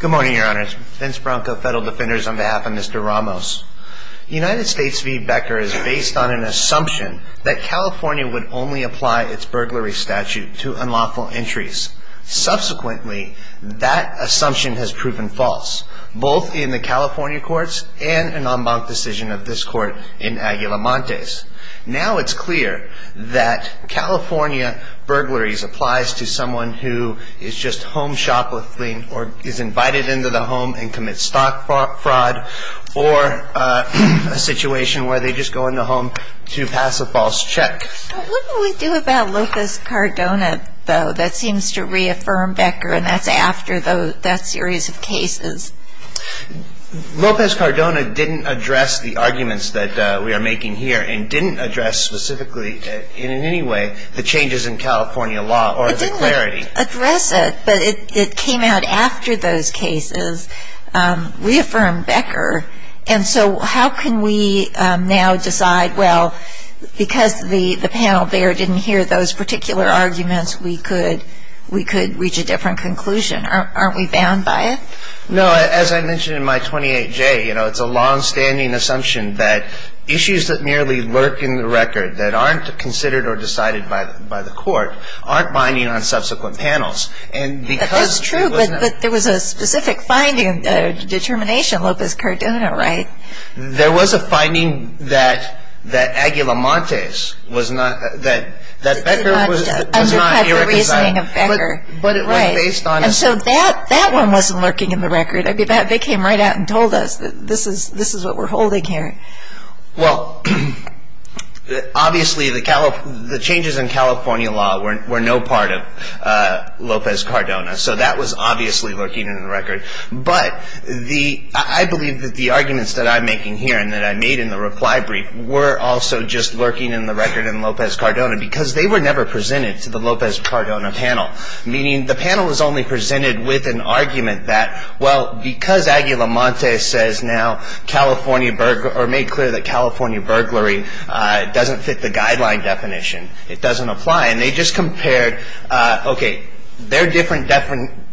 Good morning, your honors. Vince Bronco, Federal Defenders, on behalf of Mr. Ramos. United States v. Becker is based on an assumption that California would only apply its burglary statute to unlawful entries. Subsequently, that assumption has proven false, both in the California courts and an en banc decision of this court in Aguila Montes. Now it's clear that California burglaries apply to someone who is just home shoplifting, or is invited into the home and commits stock fraud, or a situation where they just go in the home to pass a false check. What do we do about Lopez Cardona, though? That seems to reaffirm Becker, and that's after that series of cases. Lopez Cardona didn't address the arguments that we are making here, and didn't address specifically, in any way, the changes in California law or the clarity. It didn't address it, but it came out after those cases reaffirmed Becker. And so how can we now decide, well, because the panel there didn't hear those particular arguments, we could reach a different conclusion? Aren't we bound by it? No, as I mentioned in my 28-J, you know, it's a long-standing assumption that issues that merely lurk in the record, that aren't considered or decided by the court, aren't binding on subsequent panels. That's true, but there was a specific finding, determination, Lopez Cardona, right? There was a finding that Aguila Montes was not, that Becker was not irreconcilable. And so that one wasn't lurking in the record. They came right out and told us that this is what we're holding here. Well, obviously the changes in California law were no part of Lopez Cardona, so that was obviously lurking in the record. But I believe that the arguments that I'm making here and that I made in the reply brief were also just lurking in the record in Lopez Cardona, because they were never presented to the Lopez Cardona panel. Meaning the panel was only presented with an argument that, well, because Aguila Montes says now California, or made clear that California burglary doesn't fit the guideline definition, it doesn't apply. And they just compared, okay, there are different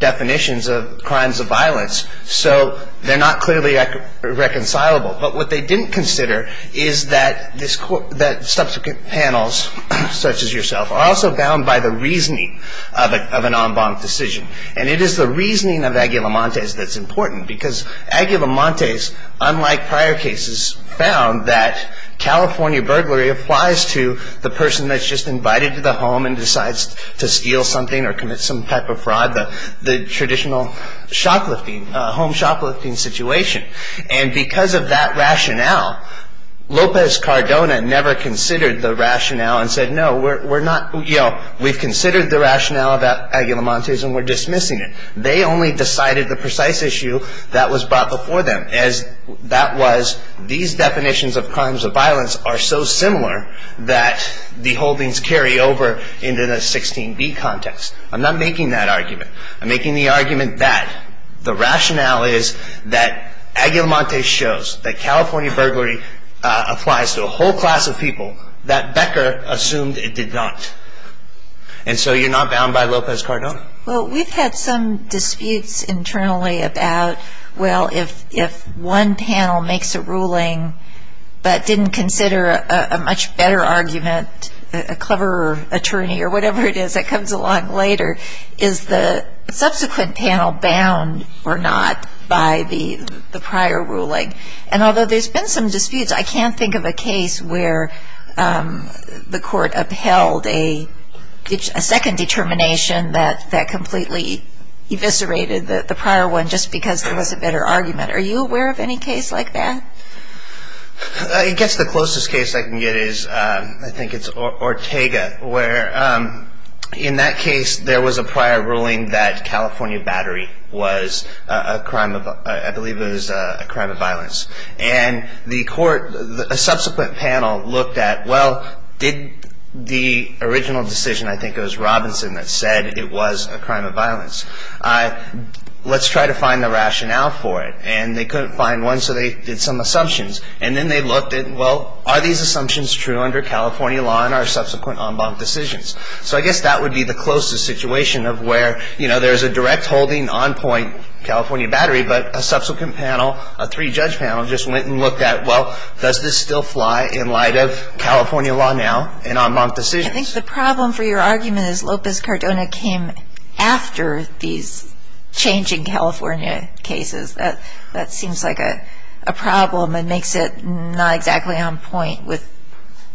definitions of crimes of violence, so they're not clearly reconcilable. But what they didn't consider is that subsequent panels such as yourself are also bound by the reasoning of an en banc decision. And it is the reasoning of Aguila Montes that's important, because Aguila Montes, unlike prior cases, found that California burglary applies to the person that's just invited to the home and decides to steal something or commit some type of fraud, the traditional shoplifting, home shoplifting situation. And because of that rationale, Lopez Cardona never considered the rationale and said, no, we're not, you know, we've considered the rationale about Aguila Montes and we're dismissing it. They only decided the precise issue that was brought before them as that was these definitions of crimes of violence are so similar that the holdings carry over into the 16B context. I'm not making that argument. I'm making the argument that the rationale is that Aguila Montes shows that California burglary applies to a whole class of people that Becker assumed it did not. And so you're not bound by Lopez Cardona? Well, we've had some disputes internally about, well, if one panel makes a ruling but didn't consider a much better argument, a cleverer attorney or whatever it is that comes along later, is the subsequent panel bound or not by the prior ruling? And although there's been some disputes, I can't think of a case where the court upheld a second determination that completely eviscerated the prior one just because there was a better argument. Are you aware of any case like that? I guess the closest case I can get is, I think it's Ortega, where in that case there was a prior ruling that California battery was a crime of, I believe it was a crime of violence. And the court, a subsequent panel looked at, well, did the original decision, I think it was Robinson that said it was a crime of violence. Let's try to find the rationale for it. And they couldn't find one, so they did some assumptions. And then they looked at, well, are these assumptions true under California law and our subsequent en banc decisions? So I guess that would be the closest situation of where there's a direct holding on point California battery, but a subsequent panel, a three-judge panel, just went and looked at, well, does this still fly in light of California law now and en banc decisions? I think the problem for your argument is Lopez-Cordona came after these changing California cases. That seems like a problem and makes it not exactly on point with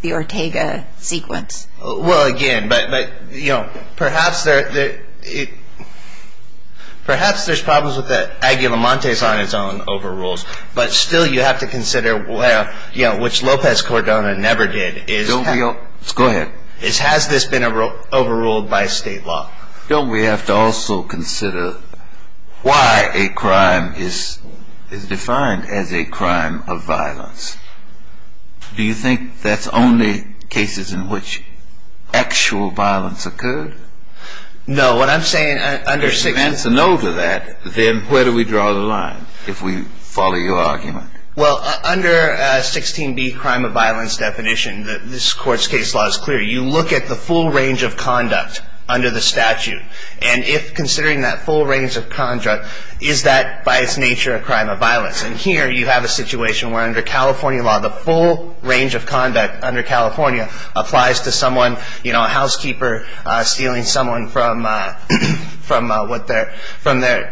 the Ortega sequence. Well, again, but, you know, perhaps there's problems with the Aguilamontes on its own over rules, but still you have to consider, you know, which Lopez-Cordona never did. Go ahead. Has this been overruled by state law? Don't we have to also consider why a crime is defined as a crime of violence? Do you think that's only cases in which actual violence occurred? No. What I'm saying under 16B. If you answer no to that, then where do we draw the line if we follow your argument? Well, under 16B, crime of violence definition, this Court's case law is clear. You look at the full range of conduct under the statute, and if considering that full range of conduct, is that by its nature a crime of violence? And here you have a situation where under California law, the full range of conduct under California applies to someone, you know, a housekeeper stealing someone from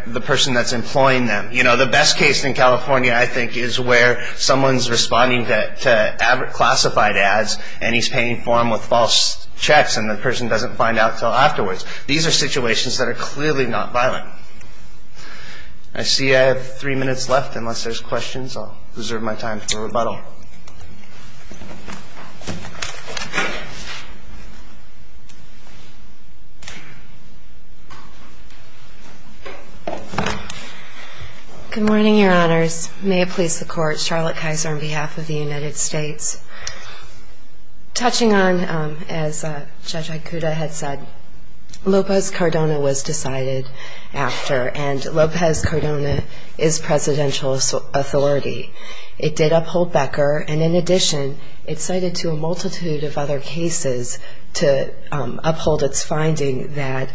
the person that's employing them. You know, the best case in California, I think, is where someone's responding to classified ads and he's paying for them with false checks and the person doesn't find out until afterwards. These are situations that are clearly not violent. I see I have three minutes left unless there's questions. I'll reserve my time for rebuttal. Good morning, Your Honors. May it please the Court, Charlotte Kaiser on behalf of the United States. Touching on, as Judge Aikuda had said, Lopez Cardona was decided after, and Lopez Cardona is presidential authority. It did uphold Becker, and in addition, it cited to a multitude of other cases to uphold its finding that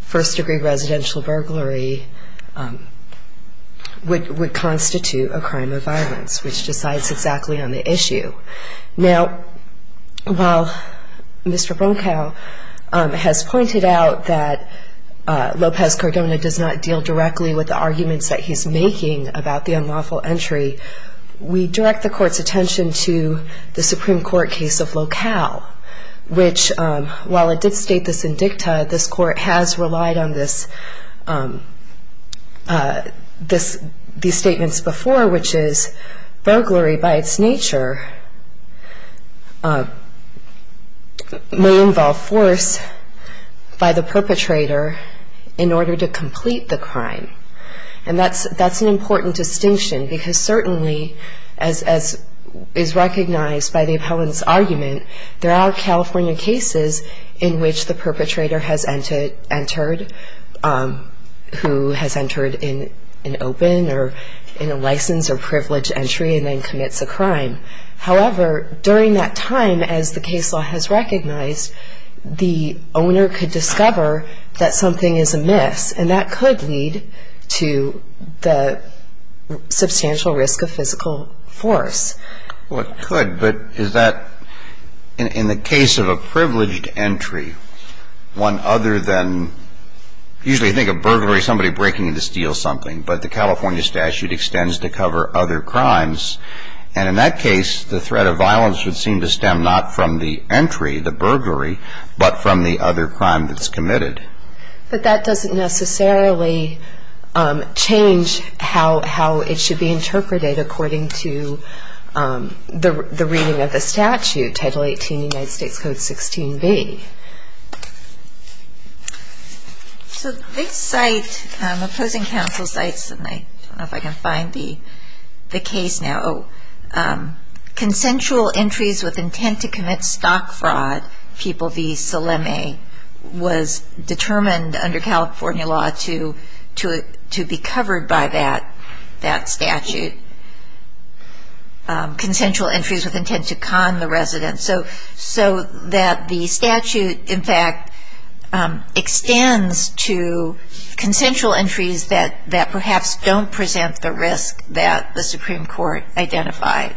first-degree residential burglary would constitute a crime of violence, which decides exactly on the issue. Now, while Mr. Bronkow has pointed out that Lopez Cardona does not deal directly with the arguments that he's making about the unlawful entry, we direct the Court's attention to the Supreme Court case of Locale, which, while it did state this in dicta, this Court has relied on these statements before, which is burglary by its nature may involve force by the perpetrator in order to complete the crime. And that's an important distinction because certainly, as is recognized by the appellant's argument, there are California cases in which the perpetrator has entered who has entered in an open or in a licensed or privileged entry and then commits a crime. However, during that time, as the case law has recognized, the owner could discover that something is amiss, and that could lead to the substantial risk of physical force. Well, it could, but is that in the case of a privileged entry, one other than, usually you think of burglary as somebody breaking into to steal something, but the California statute extends to cover other crimes. And in that case, the threat of violence would seem to stem not from the entry, the burglary, but from the other crime that's committed. But that doesn't necessarily change how it should be interpreted according to the reading of the statute, Title 18, United States Code 16b. So this site, opposing counsel sites, and I don't know if I can find the case now, consensual entries with intent to commit stock fraud, people v. Salemi, was determined under California law to be covered by that statute, consensual entries with intent to con the resident. So that the statute, in fact, extends to consensual entries that perhaps don't present the risk that the Supreme Court identified.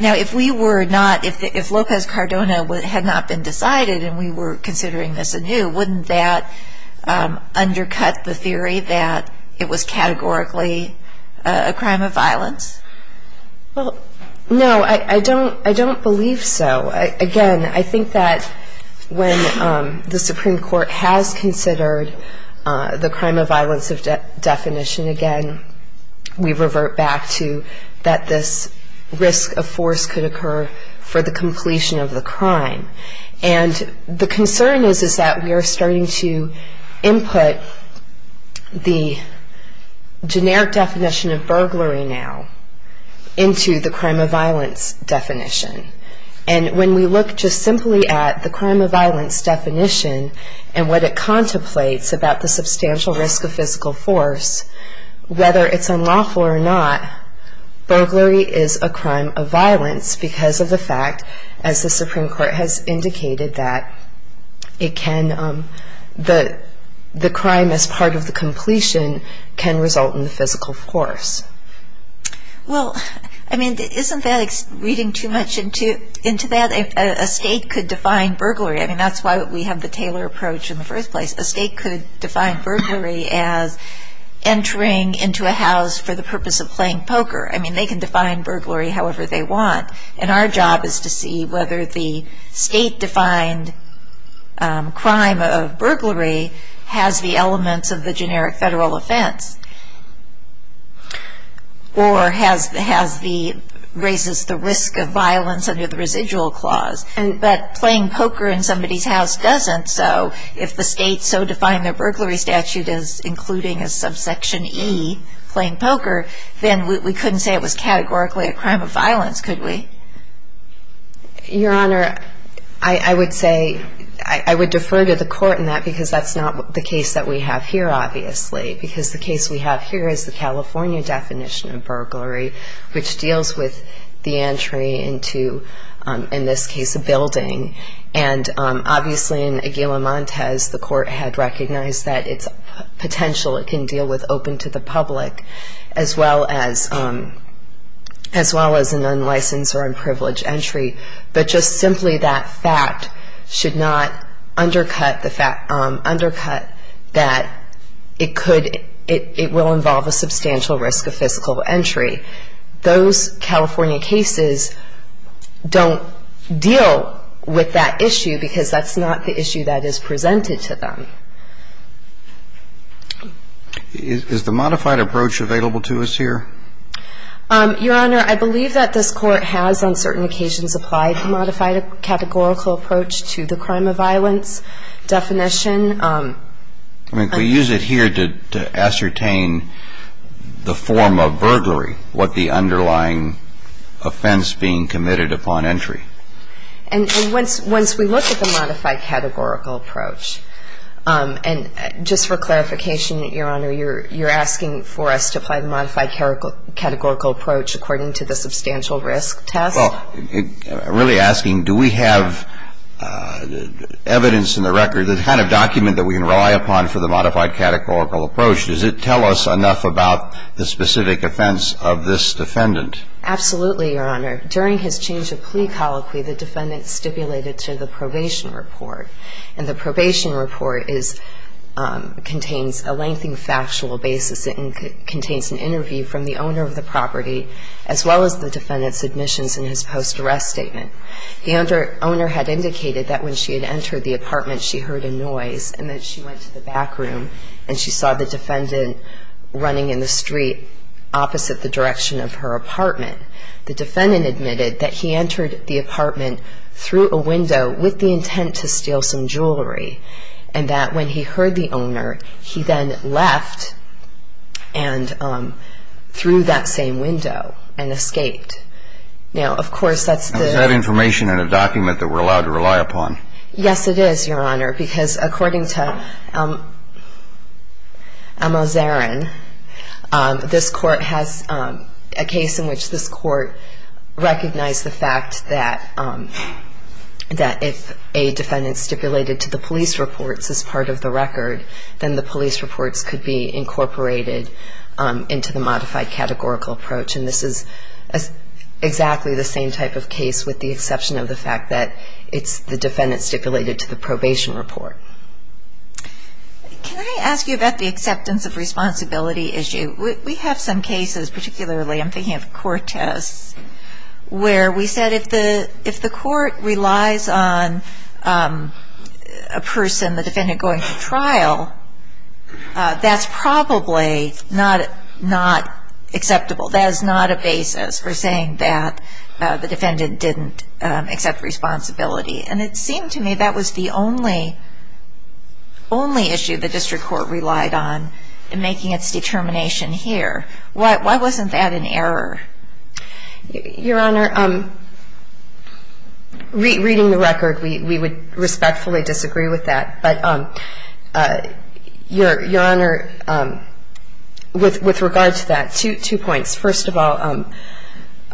Now, if we were not, if Lopez Cardona had not been decided and we were considering this anew, wouldn't that undercut the theory that it was categorically a crime of violence? Well, no, I don't believe so. Again, I think that when the Supreme Court has considered the crime of violence definition, again, we revert back to that this risk of force could occur for the completion of the crime. And the concern is that we are starting to input the generic definition of burglary now into the crime of violence definition. And when we look just simply at the crime of violence definition and what it contemplates about the substantial risk of physical force, whether it's unlawful or not, burglary is a crime of violence because of the fact, as the Supreme Court has indicated, that it can, the crime as part of the completion can result in the physical force. Well, I mean, isn't that reading too much into that? A state could define burglary. I mean, that's why we have the Taylor approach in the first place. A state could define burglary as entering into a house for the purpose of playing poker. I mean, they can define burglary however they want. And our job is to see whether the state-defined crime of burglary has the elements of the generic federal offense or raises the risk of violence under the residual clause. But playing poker in somebody's house doesn't. So if the state so defined the burglary statute as including a subsection E, playing poker, then we couldn't say it was categorically a crime of violence, could we? Your Honor, I would say, I would defer to the court in that because that's not the case that we have here, obviously, because the case we have here is the California definition of burglary, which deals with the entry into, in this case, a building. And obviously, in Aguila Montes, the court had recognized that its potential it can deal with open to the public, as well as an unlicensed or unprivileged entry. But just simply that fact should not undercut the fact, undercut that it could, it will involve a substantial risk of fiscal entry. Those California cases don't deal with that issue because that's not the issue that is presented to them. Is the modified approach available to us here? Your Honor, I believe that this Court has, on certain occasions, applied the modified categorical approach to the crime of violence definition. I mean, could we use it here to ascertain the form of burglary, what the underlying offense being committed upon entry? And once we look at the modified categorical approach, and just for clarification, Your Honor, you're asking for us to apply the modified categorical approach according to the substantial risk test? Well, I'm really asking, do we have evidence in the record, the kind of document that we can rely upon for the modified categorical approach? Does it tell us enough about the specific offense of this defendant? Absolutely, Your Honor. During his change of plea colloquy, the defendant stipulated to the probation report. And the probation report contains a lengthy factual basis. It contains an interview from the owner of the property as well as the defendant's admissions in his post-arrest statement. The owner had indicated that when she had entered the apartment, she heard a noise and that she went to the back room and she saw the defendant running in the street opposite the direction of her apartment. The defendant admitted that he entered the apartment through a window with the intent to steal some jewelry, and that when he heard the owner, he then left and threw that same window and escaped. Now, of course, that's the... Is that information in a document that we're allowed to rely upon? Yes, it is, Your Honor, because according to Al-Mazarin, this court has a case in which this court recognized the fact that if a defendant stipulated to the police reports as part of the record, then the police reports could be incorporated into the modified categorical approach. And this is exactly the same type of case with the exception of the fact that it's the defendant stipulated to the probation report. Can I ask you about the acceptance of responsibility issue? We have some cases, particularly I'm thinking of Cortez, where we said if the court relies on a person, the defendant, going to trial, that's probably not acceptable. That is not a basis for saying that the defendant didn't accept responsibility. And it seemed to me that was the only issue the district court relied on in making its determination here. Why wasn't that an error? Your Honor, reading the record, we would respectfully disagree with that. But, Your Honor, with regard to that, two points. First of all,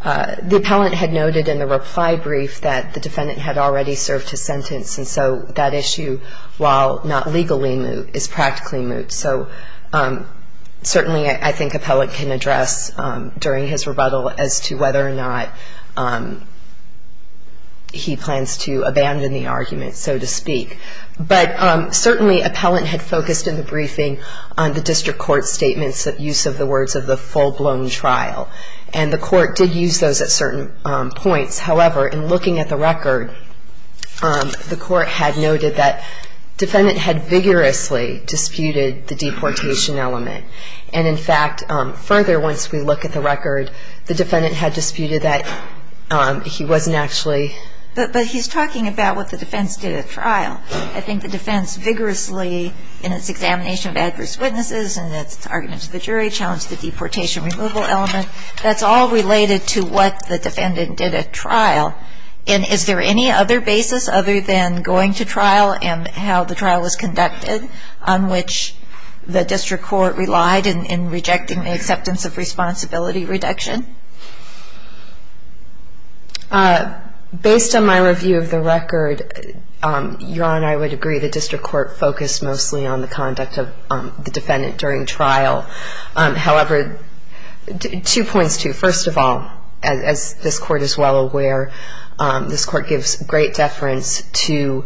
the appellant had noted in the reply brief that the defendant had already served his sentence, and so that issue, while not legally moot, is practically moot. So certainly I think appellant can address during his rebuttal as to whether or not he plans to abandon the argument, so to speak. But certainly appellant had focused in the briefing on the district court statement's use of the words of the full-blown trial. And the court did use those at certain points. However, in looking at the record, the court had noted that defendant had vigorously disputed the deportation element. And, in fact, further, once we look at the record, the defendant had disputed that he wasn't actually ---- But he's talking about what the defense did at trial. I think the defense vigorously, in its examination of adverse witnesses and its argument to the jury, challenged the deportation removal element. That's all related to what the defendant did at trial. And is there any other basis other than going to trial and how the trial was conducted on which the district court relied in rejecting the acceptance of responsibility reduction? Based on my review of the record, Your Honor, I would agree the district court focused mostly on the conduct of the defendant during trial. However, two points, too. First of all, as this court is well aware, this court gives great deference to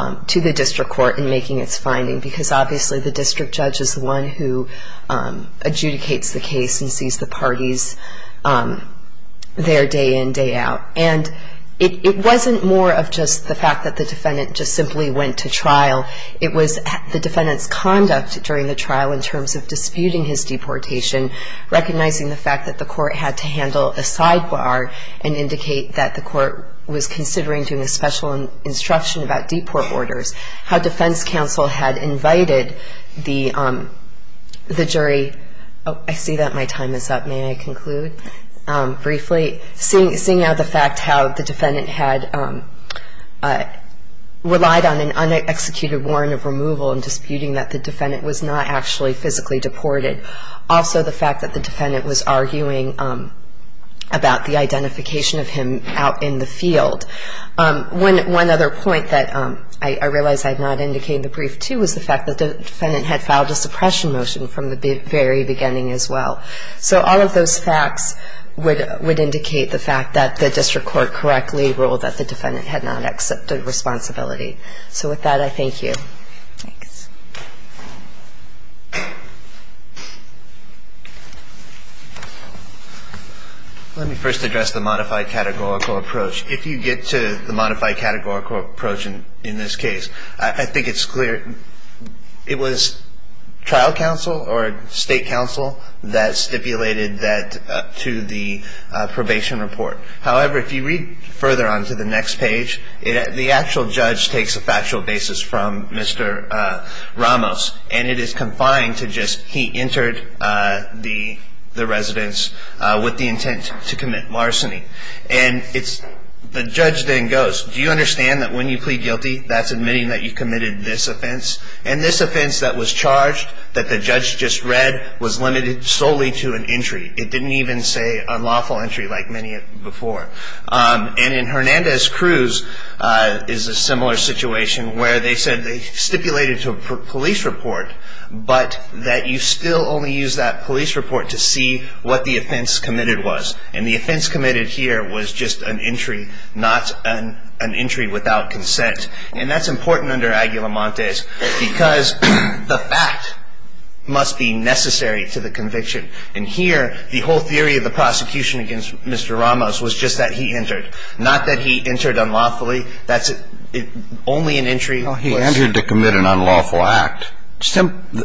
the district court in making its finding because, obviously, the district judge is the one who adjudicates the case and sees the parties there day in, day out. And it wasn't more of just the fact that the defendant just simply went to trial. It was the defendant's conduct during the trial in terms of disputing his deportation, recognizing the fact that the court had to handle a sidebar and indicate that the court was considering doing a special instruction about deport orders, how defense counsel had invited the jury. Oh, I see that my time is up. May I conclude briefly? Seeing now the fact how the defendant had relied on an unexecuted warrant of removal and disputing that the defendant was not actually physically deported. Also, the fact that the defendant was arguing about the identification of him out in the field. One other point that I realized I had not indicated in the brief, too, was the fact that the defendant had filed a suppression motion from the very beginning as well. So all of those facts would indicate the fact that the district court correctly ruled that the defendant had not accepted responsibility. So with that, I thank you. Let me first address the modified categorical approach. If you get to the modified categorical approach in this case, I think it's clear. It was trial counsel or state counsel that stipulated that to the probation report. However, if you read further on to the next page, the actual judge takes a factual basis from Mr. Kline. Mr. Ramos. And it is confined to just he entered the residence with the intent to commit marciny. And the judge then goes, do you understand that when you plead guilty, that's admitting that you committed this offense? And this offense that was charged, that the judge just read, was limited solely to an entry. It didn't even say unlawful entry like many before. And in Hernandez-Cruz is a similar situation where they said they stipulated to a police report, but that you still only use that police report to see what the offense committed was. And the offense committed here was just an entry, not an entry without consent. And that's important under Aguilamontes because the fact must be necessary to the conviction. And here, the whole theory of the prosecution against Mr. Ramos was just that he entered, not that he entered unlawfully. That's only an entry. He entered to commit an unlawful act.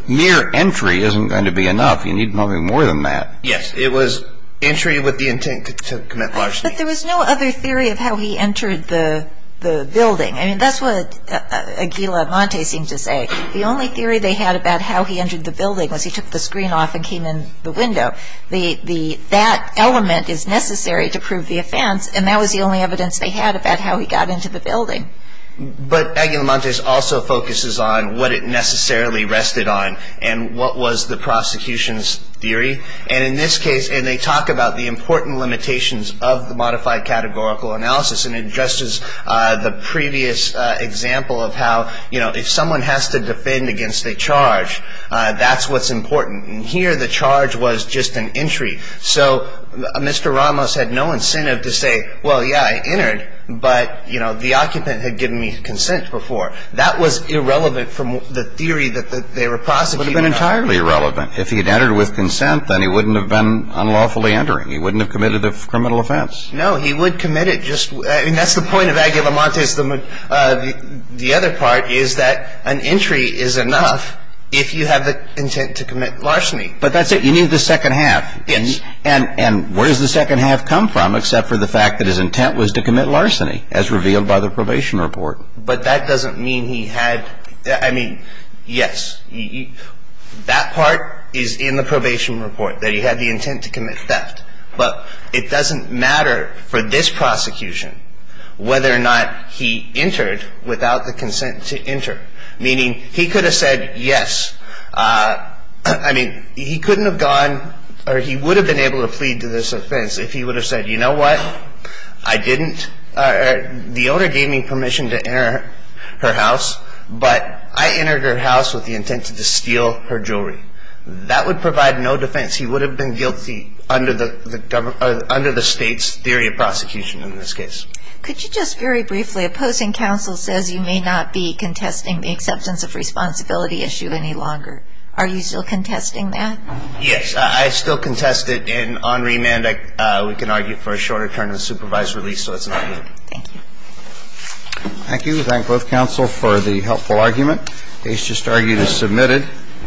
Mere entry isn't going to be enough. You need probably more than that. Yes. It was entry with the intent to commit marciny. But there was no other theory of how he entered the building. I mean, that's what Aguilamontes seemed to say. The only theory they had about how he entered the building was he took the screen off and came in the window. That element is necessary to prove the offense, and that was the only evidence they had about how he got into the building. But Aguilamontes also focuses on what it necessarily rested on and what was the prosecution's theory. And in this case, and they talk about the important limitations of the modified categorical analysis, and just as the previous example of how, you know, if someone has to defend against a charge, that's what's important. And here, the charge was just an entry. So Mr. Ramos had no incentive to say, well, yeah, I entered, but, you know, the occupant had given me consent before. That was irrelevant from the theory that they were prosecuting. It would have been entirely irrelevant. If he had entered with consent, then he wouldn't have been unlawfully entering. He wouldn't have committed a criminal offense. No, he would commit it just – I mean, that's the point of Aguilamontes. The other part is that an entry is enough if you have the intent to commit larceny. But that's it. You need the second half. Yes. And where does the second half come from except for the fact that his intent was to commit larceny, as revealed by the probation report? But that doesn't mean he had – I mean, yes, that part is in the probation report, that he had the intent to commit theft. But it doesn't matter for this prosecution whether or not he entered without the consent to enter, meaning he could have said yes. I mean, he couldn't have gone – or he would have been able to plead to this offense if he would have said, you know what? I didn't – the owner gave me permission to enter her house, but I entered her house with the intent to steal her jewelry. That would provide no defense. He would have been guilty under the State's theory of prosecution in this case. Could you just very briefly – opposing counsel says you may not be contesting the acceptance of responsibility issue any longer. Are you still contesting that? Yes. I still contest it. And on remand, we can argue for a shorter term than supervised release, so it's not new. Thank you. Thank you. We thank both counsel for the helpful argument. Case just argued is submitted.